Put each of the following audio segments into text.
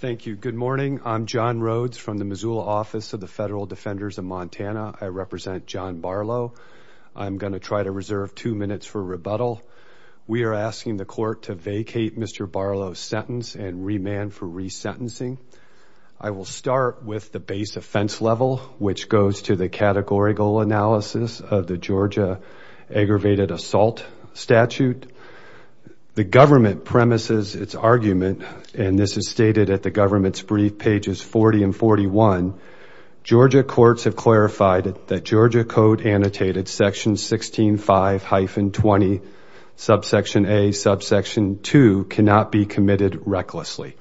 Thank you. Good morning. I'm John Rhodes from the Missoula Office of the Federal Defenders of Montana. I represent John Barlow. I'm going to try to reserve two minutes for rebuttal. We are asking the court to vacate Mr. Barlow's sentence and remand for resentencing. I will start with the base offense level, which goes to the categorical analysis of the Georgia aggravated assault statute. The government premises its argument, and this is stated at the government's brief pages 40 and 41. Georgia courts have clarified that Georgia code annotated section 16 five hyphen 20, subsection a subsection two cannot be committed recklessly.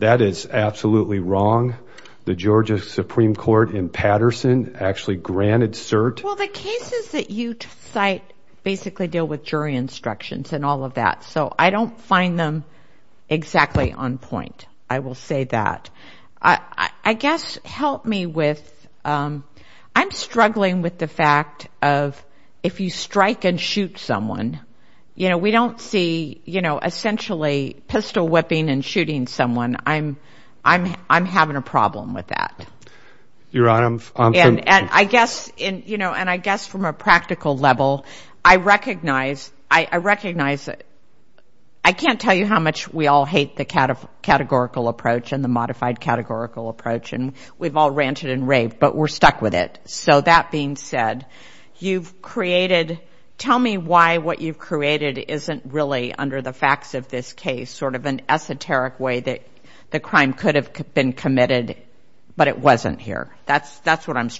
That is absolutely wrong. The Georgia Supreme Court in Patterson actually Well, the cases that you cite basically deal with jury instructions and all of that, so I don't find them exactly on point. I will say that. I guess help me with, I'm struggling with the fact of if you strike and shoot someone, you know, we don't see, you know, essentially pistol whipping and shooting someone. I'm, I'm, I'm having a problem with that. Your guess, you know, and I guess from a practical level, I recognize, I recognize, I can't tell you how much we all hate the categorical approach and the modified categorical approach, and we've all ranted and raved, but we're stuck with it. So that being said, you've created, tell me why what you've created isn't really under the facts of this case, sort of an esoteric way that the crime could have been committed, but it wasn't here. That's, that's what I'm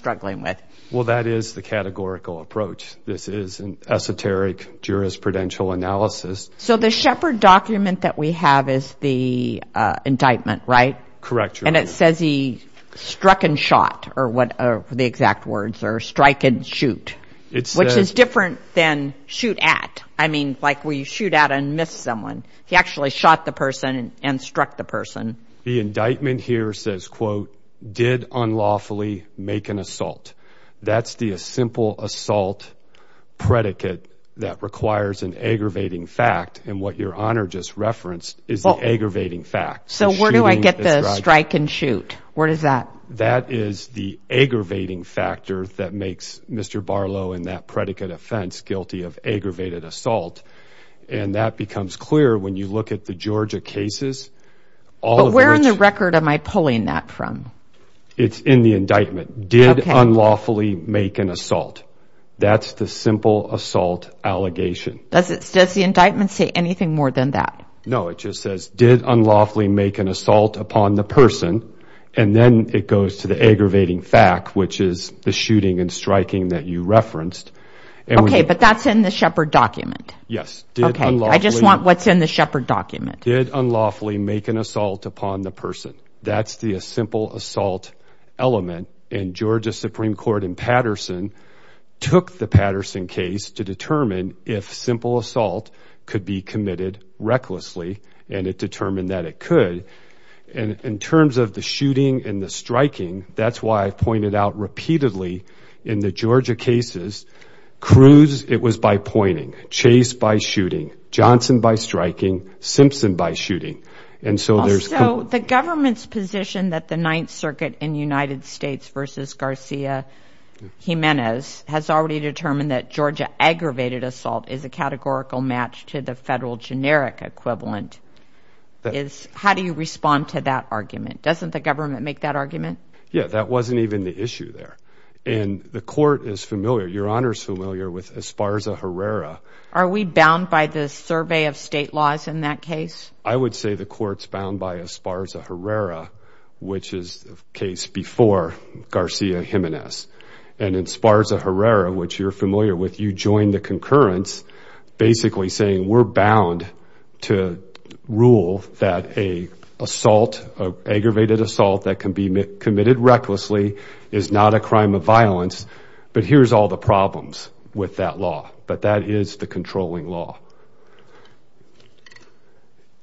Well, that is the categorical approach. This is an esoteric jurisprudential analysis. So the Shepard document that we have is the indictment, right? Correct. And it says he struck and shot, or what are the exact words, or strike and shoot, which is different than shoot at. I mean, like we shoot at and miss someone. He actually shot the person and struck the person. The indictment here says, quote, did unlawfully make an assault. That's the simple assault predicate that requires an aggravating fact. And what your honor just referenced is the aggravating fact. So where do I get the strike and shoot? What is that? That is the aggravating factor that makes Mr. Barlow and that predicate offense guilty of aggravated assault. And that becomes clear when you look at the Georgia cases, all of which... But where in the record am I pulling that from? It's in the indictment. Did unlawfully make an assault. That's the simple assault allegation. Does it, does the indictment say anything more than that? No, it just says, did unlawfully make an assault upon the person. And then it goes to the aggravating fact, which is the shooting and striking that you referenced. Okay, but that's in the Shepard document. Yes. Okay. I just want what's in the Shepard document. Did unlawfully make an assault upon the person. That's the simple assault element. And Georgia Supreme Court in Patterson took the Patterson case to determine if simple assault could be committed recklessly. And it determined that it could. And in terms of the shooting and the cruise, it was by pointing, chase by shooting, Johnson by striking, Simpson by shooting. And so there's... So the government's position that the Ninth Circuit in United States versus Garcia Jimenez has already determined that Georgia aggravated assault is a categorical match to the federal generic equivalent. How do you respond to that argument? Doesn't the government make that argument? Yeah, that wasn't even the issue there. And the court is familiar, Your Honor's familiar with Esparza Herrera. Are we bound by the survey of state laws in that case? I would say the court's bound by Esparza Herrera, which is the case before Garcia Jimenez. And in Esparza Herrera, which you're familiar with, you join the concurrence, basically saying we're bound to rule that a assault, an aggravated assault that can be committed recklessly is not a crime of violence, but here's all the problems with that law. But that is the controlling law.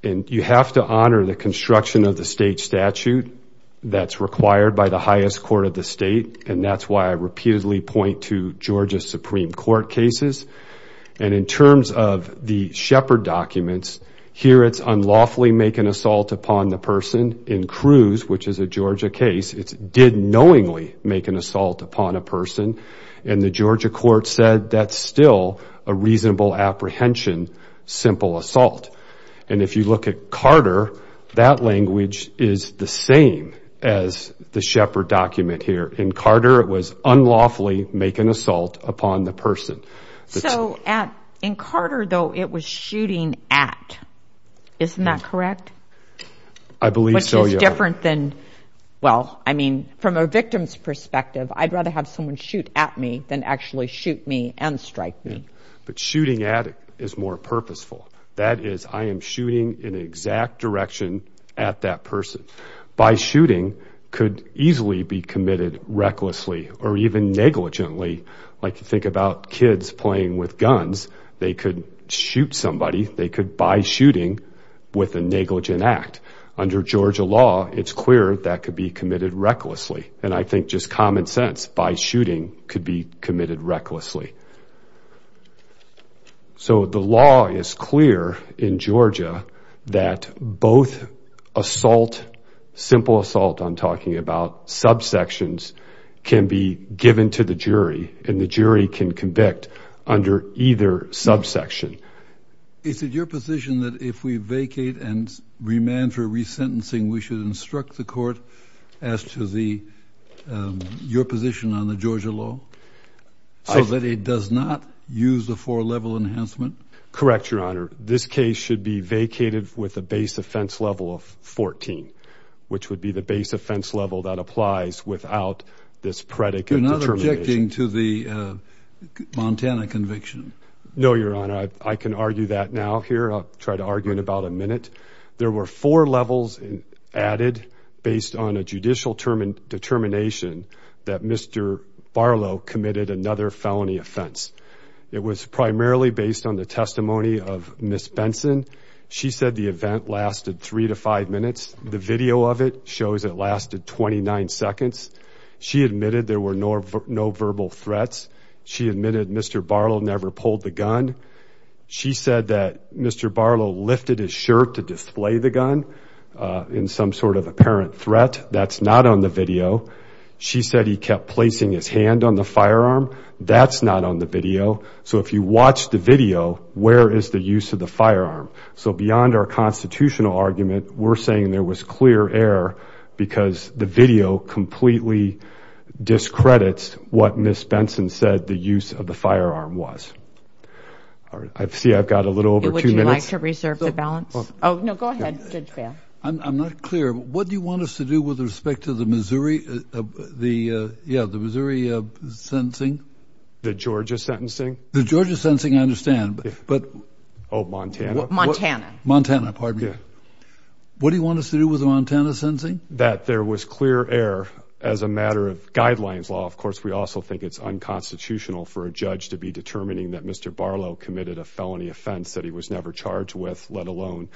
And you have to honor the construction of the state statute that's required by the highest court of the state. And that's why I repeatedly point to Georgia Supreme Court cases. And in Shepard documents, here it's unlawfully make an assault upon the person. In Cruz, which is a Georgia case, it did knowingly make an assault upon a person. And the Georgia court said that's still a reasonable apprehension, simple assault. And if you look at Carter, that language is the same as the Shepard document here. In Carter, it was unlawfully make an assault upon the person. So in Carter, though, it was shooting at. Isn't that correct? I believe so, yeah. Which is different than, well, I mean, from a victim's perspective, I'd rather have someone shoot at me than actually shoot me and strike me. But shooting at is more purposeful. That is, I am shooting in the exact direction at that person. By shooting could easily be committed recklessly or even negligently. Like you think about kids playing with guns, they could shoot somebody, they could by shooting with a negligent act. Under Georgia law, it's clear that could be committed recklessly. And I think just common sense by shooting could be committed recklessly. So the law is clear in Georgia that both assault, simple assault, I'm talking about subsections, can be given to the jury and the jury can convict under either subsection. Is it your position that if we vacate and remand for resentencing, we should instruct the court as to your position on the Georgia law so that it does not use the four-level enhancement? Correct, Your Honor. This case should be vacated with a base offense level of 14, which would be the base offense level that applies without this predicate. You're not objecting to the Montana conviction? No, Your Honor. I can argue that now here. I'll try to argue in about a minute. There were four levels added based on a judicial determination that Mr. Barlow committed another felony offense. It was primarily based on the testimony of Ms. Benson. She said the event lasted three to five minutes. The video of it shows it lasted 29 seconds. She admitted there were no verbal threats. She admitted Mr. Barlow never pulled the gun. She said that Mr. Barlow lifted his shirt to display the gun in some sort of apparent threat. That's not on the video. She said he kept placing his hand on the firearm. That's not on the video. So if you watch the video, where is the use of the firearm? So beyond our constitutional argument, we're saying there was clear error because the video completely discredits what Ms. Benson said the use of the firearm was. I see I've got a little over two minutes. Would you like to reserve the balance? Oh no, go ahead, Judge Bail. I'm not clear. What do you want us to do with respect to the Missouri the uh yeah the Missouri uh sentencing? The Georgia sentencing? The Georgia sentencing, I understand, but oh Montana? Montana. Montana, pardon me. What do you want us to do with the Montana sentencing? That there was clear error as a matter of guidelines law. Of course, we also think it's unconstitutional for a judge to be determining that Mr. Barlow committed a felony offense that he was never charged with, let alone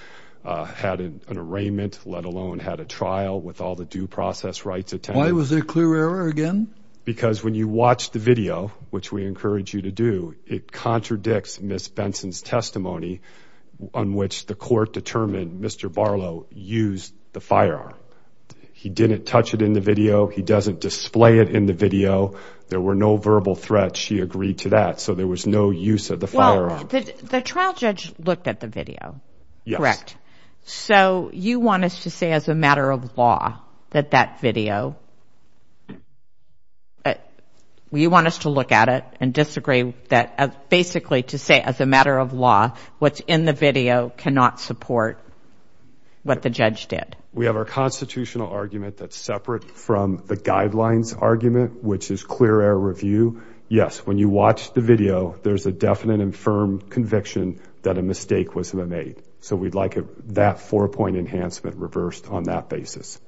had an arraignment, let alone had a trial with all the due process rights attended. Why was there clear error again? Because when you watch the video, which we encourage you to do, it contradicts Ms. Benson's testimony on which the court determined Mr. Barlow used the firearm. He didn't touch it in the video. He doesn't display it in the video. There were no verbal threats. She agreed to that. So there was no use of the firearm. The trial judge looked at the video. Yes. Correct. So you want us to say as a matter of law that that video, you want us to look at it and disagree that basically to say as a matter of law what's in the video cannot support what the judge did. We have our constitutional argument that's separate from the guidelines argument, which is clear error review. Yes, when you watch the video there's a definite and firm conviction that a mistake was made. So we'd like that four-point enhancement reversed on that basis.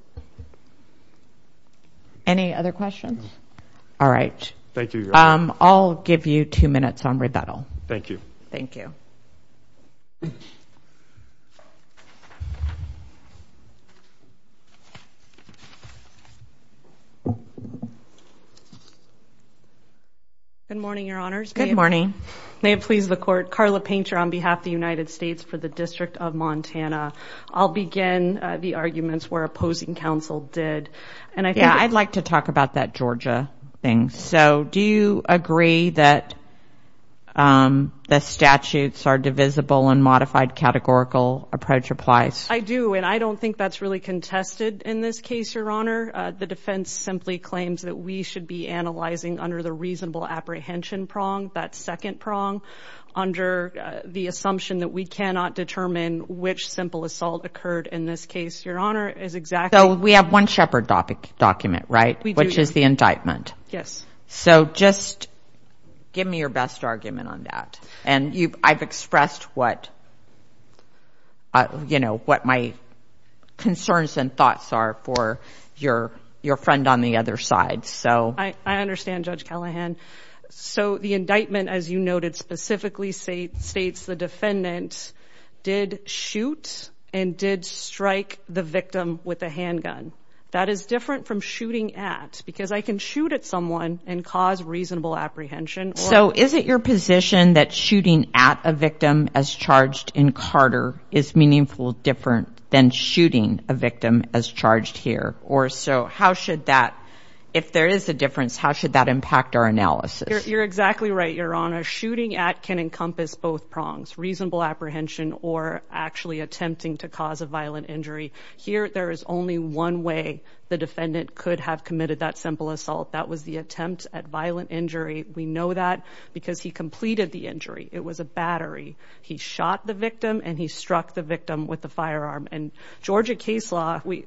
Any other questions? All right. Thank you. I'll give you two minutes on rebuttal. Thank you. Thank you. Good morning, your honors. Good morning. May it please the court. Carla Painter on behalf of the United States for the District of Montana. I'll begin the arguments where opposing counsel did. Yeah, I'd like to talk about that Georgia thing. So do you agree that the statutes are divisible and modified categorical approach applies? I do and I don't think that's really contested in this case, your honor. The defense simply claims that we should be analyzing under the reasonable apprehension prong, that second prong under the assumption that we cannot determine which simple assault occurred in this case, your honor, is exactly. So we have one shepherd topic document, right? Which is the indictment. Yes. So just give me your best argument on that and I've expressed what, you know, what my concerns and thoughts are for your friend on the other side. So I understand Judge Callahan. So the indictment as you noted specifically say states the defendant did shoot and did strike the victim with a handgun. That is different from shooting at because I can shoot at someone and cause reasonable apprehension. So is it your position that shooting at a victim as charged in Carter is meaningful different than shooting a victim as charged here or so? How should that, if there is a difference, how should that impact our analysis? You're exactly right, your honor. Shooting at can encompass both prongs, reasonable apprehension or actually attempting to cause a violent injury. Here there is only one way the defendant could have committed that simple assault. That was the attempt at violent injury. We know that because he completed the injury. It was a battery. He shot the victim and he struck the victim.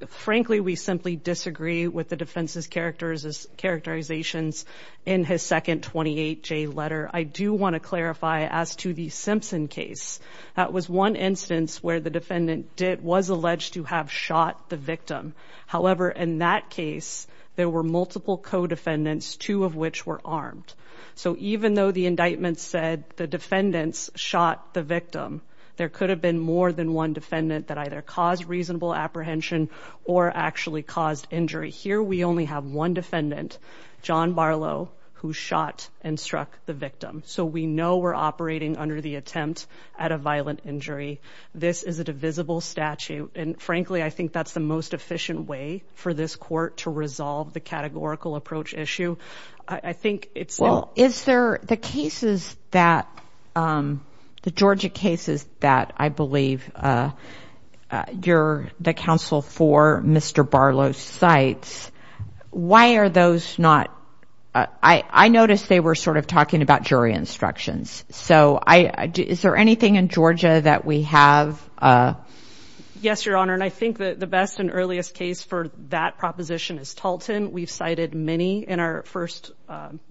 Frankly, we simply disagree with the defense's characterizations in his second 28J letter. I do want to clarify as to the Simpson case. That was one instance where the defendant was alleged to have shot the victim. However, in that case there were multiple co-defendants, two of which were armed. So even though the indictment said the defendants shot the victim, there could have been more than one defendant that either caused reasonable apprehension or actually caused injury. Here we only have one defendant, John Barlow, who shot and struck the victim. So we know we're operating under the attempt at a violent injury. This is a divisible statute and frankly I think that's the most efficient way for this court to resolve the I believe you're the counsel for Mr. Barlow's sites. Why are those not? I noticed they were sort of talking about jury instructions. So is there anything in Georgia that we have? Yes, Your Honor, and I think that the best and earliest case for that proposition is Talton. We've cited many in our first,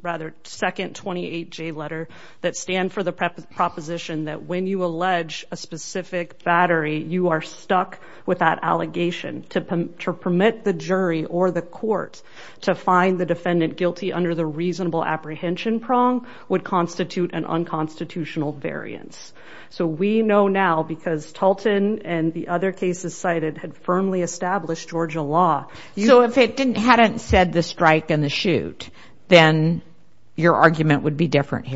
rather second 28J letter that stand for the proposition that when you allege a specific battery, you are stuck with that allegation. To permit the jury or the court to find the defendant guilty under the reasonable apprehension prong would constitute an unconstitutional variance. So we know now because Talton and the other cases cited had firmly established Georgia law. So if it hadn't said the strike and the shoot, then your argument would be not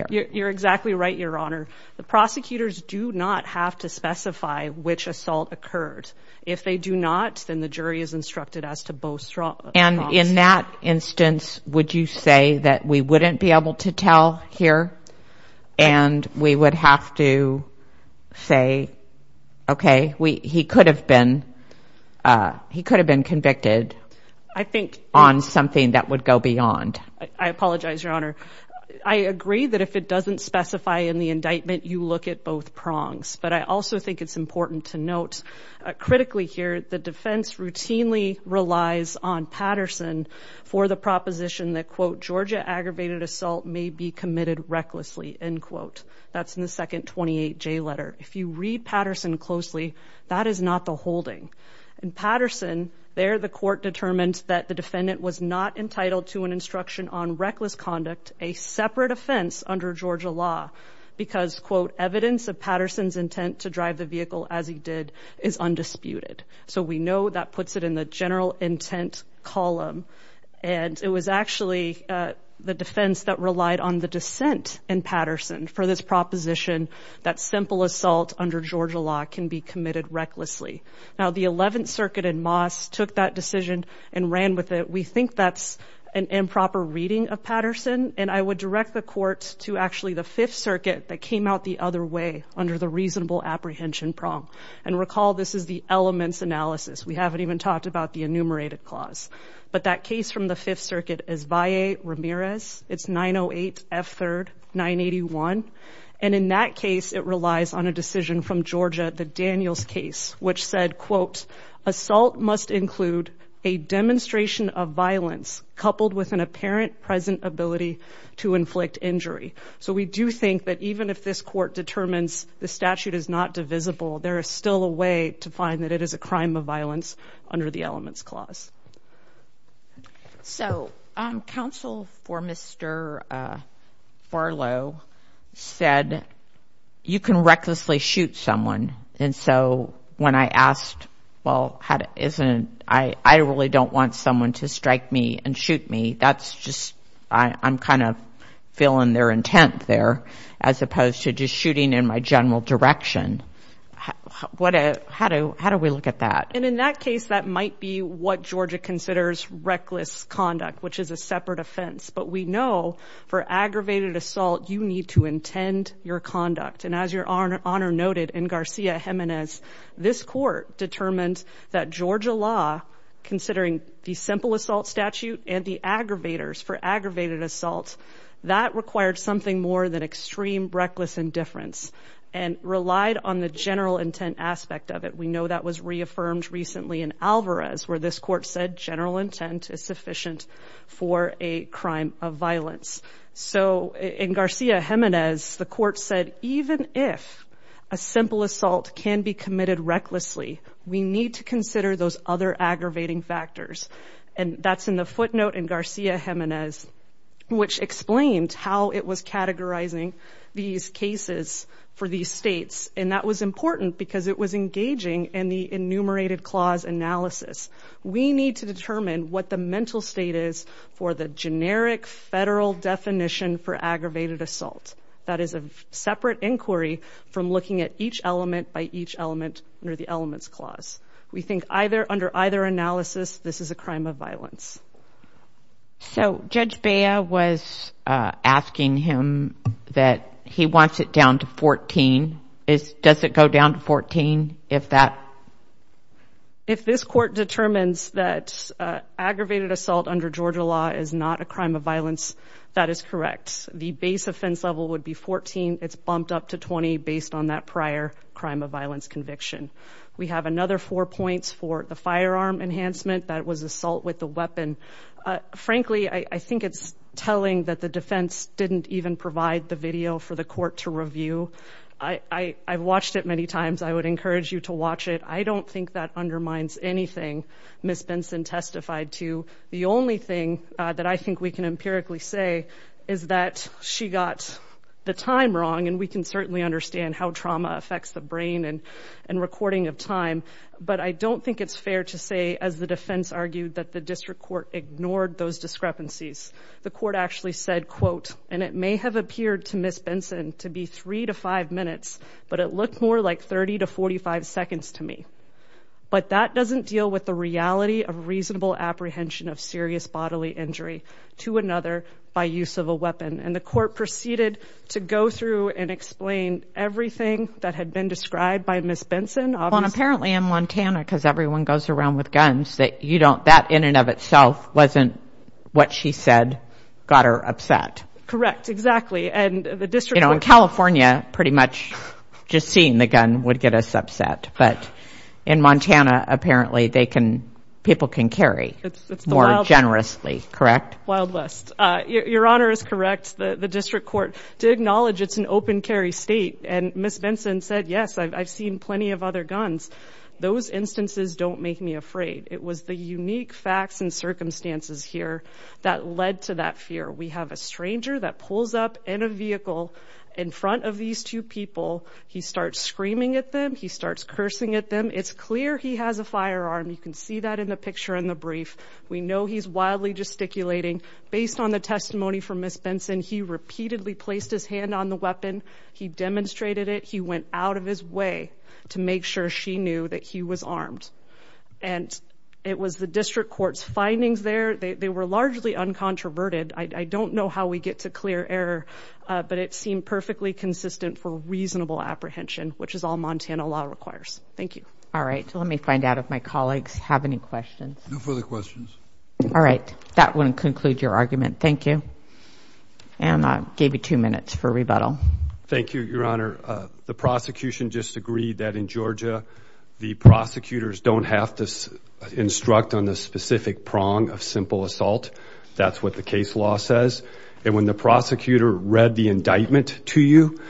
have to specify which assault occurred. If they do not, then the jury is instructed as to both strong. And in that instance, would you say that we wouldn't be able to tell here and we would have to say, okay, we he could have been. He could have been convicted. I think on something that would go beyond. I apologize, Your Honor. I agree that if it doesn't specify in the indictment, you look at both prongs. But I also think it's important to note critically here. The defense routinely relies on Patterson for the proposition that, quote, Georgia aggravated assault may be committed recklessly, end quote. That's in the second 28J letter. If you read Patterson closely, that is not the holding. In Patterson there, the court determines that the defendant was not entitled to an instruction on reckless conduct, a separate offense under Georgia law because, quote, evidence of Patterson's intent to drive the vehicle as he did is undisputed. So we know that puts it in the general intent column, and it was actually the defense that relied on the dissent in Patterson for this proposition that simple assault under Georgia law can be committed recklessly. Now, the 11th Circuit in Moss took that decision and ran with it. We think that's an improper reading of Patterson, and I would direct the court to actually the 5th Circuit that came out the other way under the reasonable apprehension prong. And recall, this is the elements analysis. We haven't even talked about the enumerated clause. But that case from the 5th Circuit is Valle Ramirez. It's 908 F. 3rd 981. And in that case, it relies on a decision from Georgia, the Daniels case, which said, quote, assault must include a demonstration of violence coupled with an apparent present ability to inflict injury. So we do think that even if this court determines the statute is not divisible, there is still a way to find that it is a crime of violence under the elements clause. So counsel for Mr Farlow said you can recklessly shoot someone. And so when I asked, well, how isn't I? I really don't want someone to strike me and shoot me. That's just I'm kind of feeling their intent there as opposed to just shooting in my general direction. What? How do how do we look at that? And in that case, that might be what Georgia considers reckless conduct, which is a separate offense. But we know for aggravated assault, you need to that Georgia law, considering the simple assault statute and the aggravators for aggravated assault, that required something more than extreme reckless indifference and relied on the general intent aspect of it. We know that was reaffirmed recently in Alvarez, where this court said general intent is sufficient for a crime of violence. So in Garcia Jimenez, the court said, even if a simple assault can be committed recklessly, we need to consider those other aggravating factors. And that's in the footnote in Garcia Jimenez, which explained how it was categorizing these cases for these states. And that was important because it was engaging in the enumerated clause analysis. We need to determine what the mental state is for the separate inquiry from looking at each element by each element under the elements clause. We think either under either analysis, this is a crime of violence. So Judge Bea was asking him that he wants it down to 14. Does it go down to 14 if that? If this court determines that aggravated assault under Georgia law is not a crime of violence, that is correct. The base offense level would be 14. It's bumped up to 20 based on that prior crime of violence conviction. We have another four points for the firearm enhancement. That was assault with the weapon. Frankly, I think it's telling that the defense didn't even provide the video for the court to review. I watched it many times. I would encourage you to watch it. I don't think that undermines anything. Miss Benson testified to the only thing that I think we can empirically say is that she got the time wrong. And we can certainly understand how trauma affects the brain and recording of time. But I don't think it's fair to say, as the defense argued, that the district court ignored those discrepancies. The court actually said, quote, and it may have appeared to Miss Benson to be three to five minutes, but it looked more like 30 to 45 seconds to me. But that doesn't deal with the reality of reasonable apprehension of bodily injury to another by use of a weapon. And the court proceeded to go through and explain everything that had been described by Miss Benson. Apparently in Montana, because everyone goes around with guns that you don't that in and of itself wasn't what she said got her upset. Correct. Exactly. And the district in California pretty much just seeing the gun would get us upset. But in Montana, apparently they can people can carry more generously. Correct. Wild West. Your honor is correct. The district court did acknowledge it's an open carry state. And Miss Benson said, yes, I've seen plenty of other guns. Those instances don't make me afraid. It was the unique facts and circumstances here that led to that fear. We have a stranger that pulls up in a vehicle in front of these two people. He starts screaming at them. He starts cursing at them. It's clear he has a firearm. You can see that in the picture in the brief. We know he's wildly gesticulating based on the testimony from Miss Benson. He repeatedly placed his hand on the weapon. He demonstrated it. He went out of his way to make sure she knew that he was armed. And it was the district court's findings there. They were largely uncontroverted. I don't know how we get to clear error, but it seemed perfectly consistent for reasonable apprehension, which is all Montana law requires. Thank you. All right. So let me find out if my colleagues have any questions. No further questions. All right. That wouldn't conclude your argument. Thank you. And I gave you two minutes for rebuttal. Thank you, your honor. The prosecution just agreed that in Georgia, the prosecutors don't have to instruct on the specific prong of simple assault. That's what the case law says. And when the prosecutor read the indictment to you,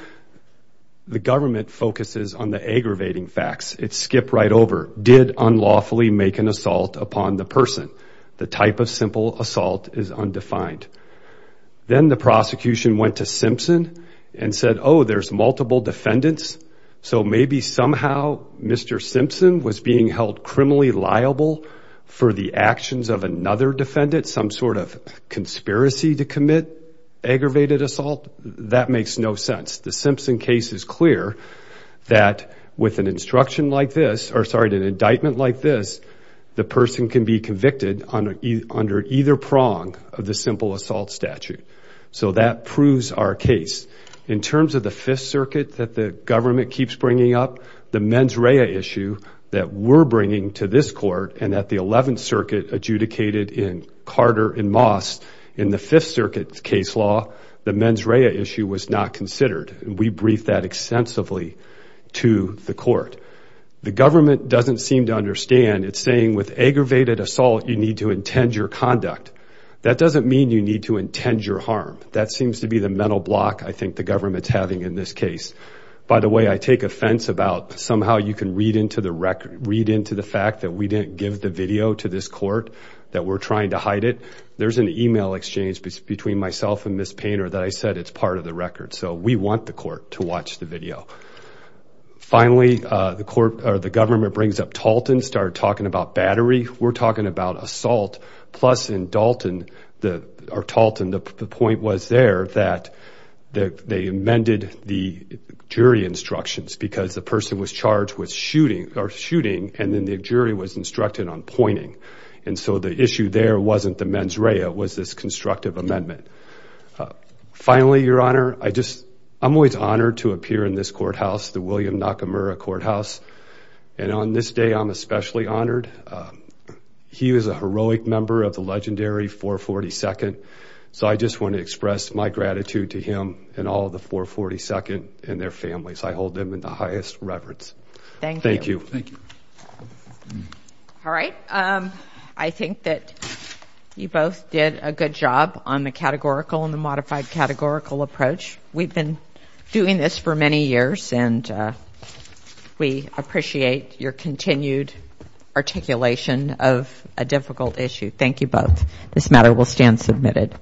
the government focuses on the aggravating facts. It skipped right over, did unlawfully make an assault upon the person. The type of simple assault is undefined. Then the prosecution went to Simpson and said, oh, there's multiple defendants. So maybe somehow Mr. Simpson was being held criminally liable for the actions of another defendant, some sort of conspiracy to commit aggravated assault. That makes no sense. The Simpson case is clear that with an instruction like this, or sorry, an indictment like this, the person can be convicted under either prong of the simple assault statute. So that proves our case. In terms of the Fifth Circuit that the to this court and that the Eleventh Circuit adjudicated in Carter and Moss in the Fifth Circuit case law, the mens rea issue was not considered. And we briefed that extensively to the court. The government doesn't seem to understand. It's saying with aggravated assault, you need to intend your conduct. That doesn't mean you need to intend your harm. That seems to be the mental block I think the government's having in this case. By the way, I take offense about somehow you can read into the record, read into the fact that we didn't give the video to this court, that we're trying to hide it. There's an email exchange between myself and Ms. Painter that I said, it's part of the record. So we want the court to watch the video. Finally, the court or the government brings up Talton, started talking about battery. We're talking about assault. Plus in Dalton, or Talton, the point was there that they amended the jury instructions because the person was charged with shooting or shooting. And then the jury was instructed on pointing. And so the issue there wasn't the mens rea, it was this constructive amendment. Finally, Your Honor, I just, I'm always honored to appear in this courthouse, the William Nakamura Courthouse. And on this day, I'm especially honored. He was a heroic member of the legendary 442nd. So I just want to express my gratitude to him and all of the 442nd and their families. I hold them in the highest reverence. Thank you. All right. I think that you both did a good job on the categorical and the modified categorical approach. We've been doing this for many years and we appreciate your continued articulation of a difficult issue. Thank you both. This matter will stand submitted.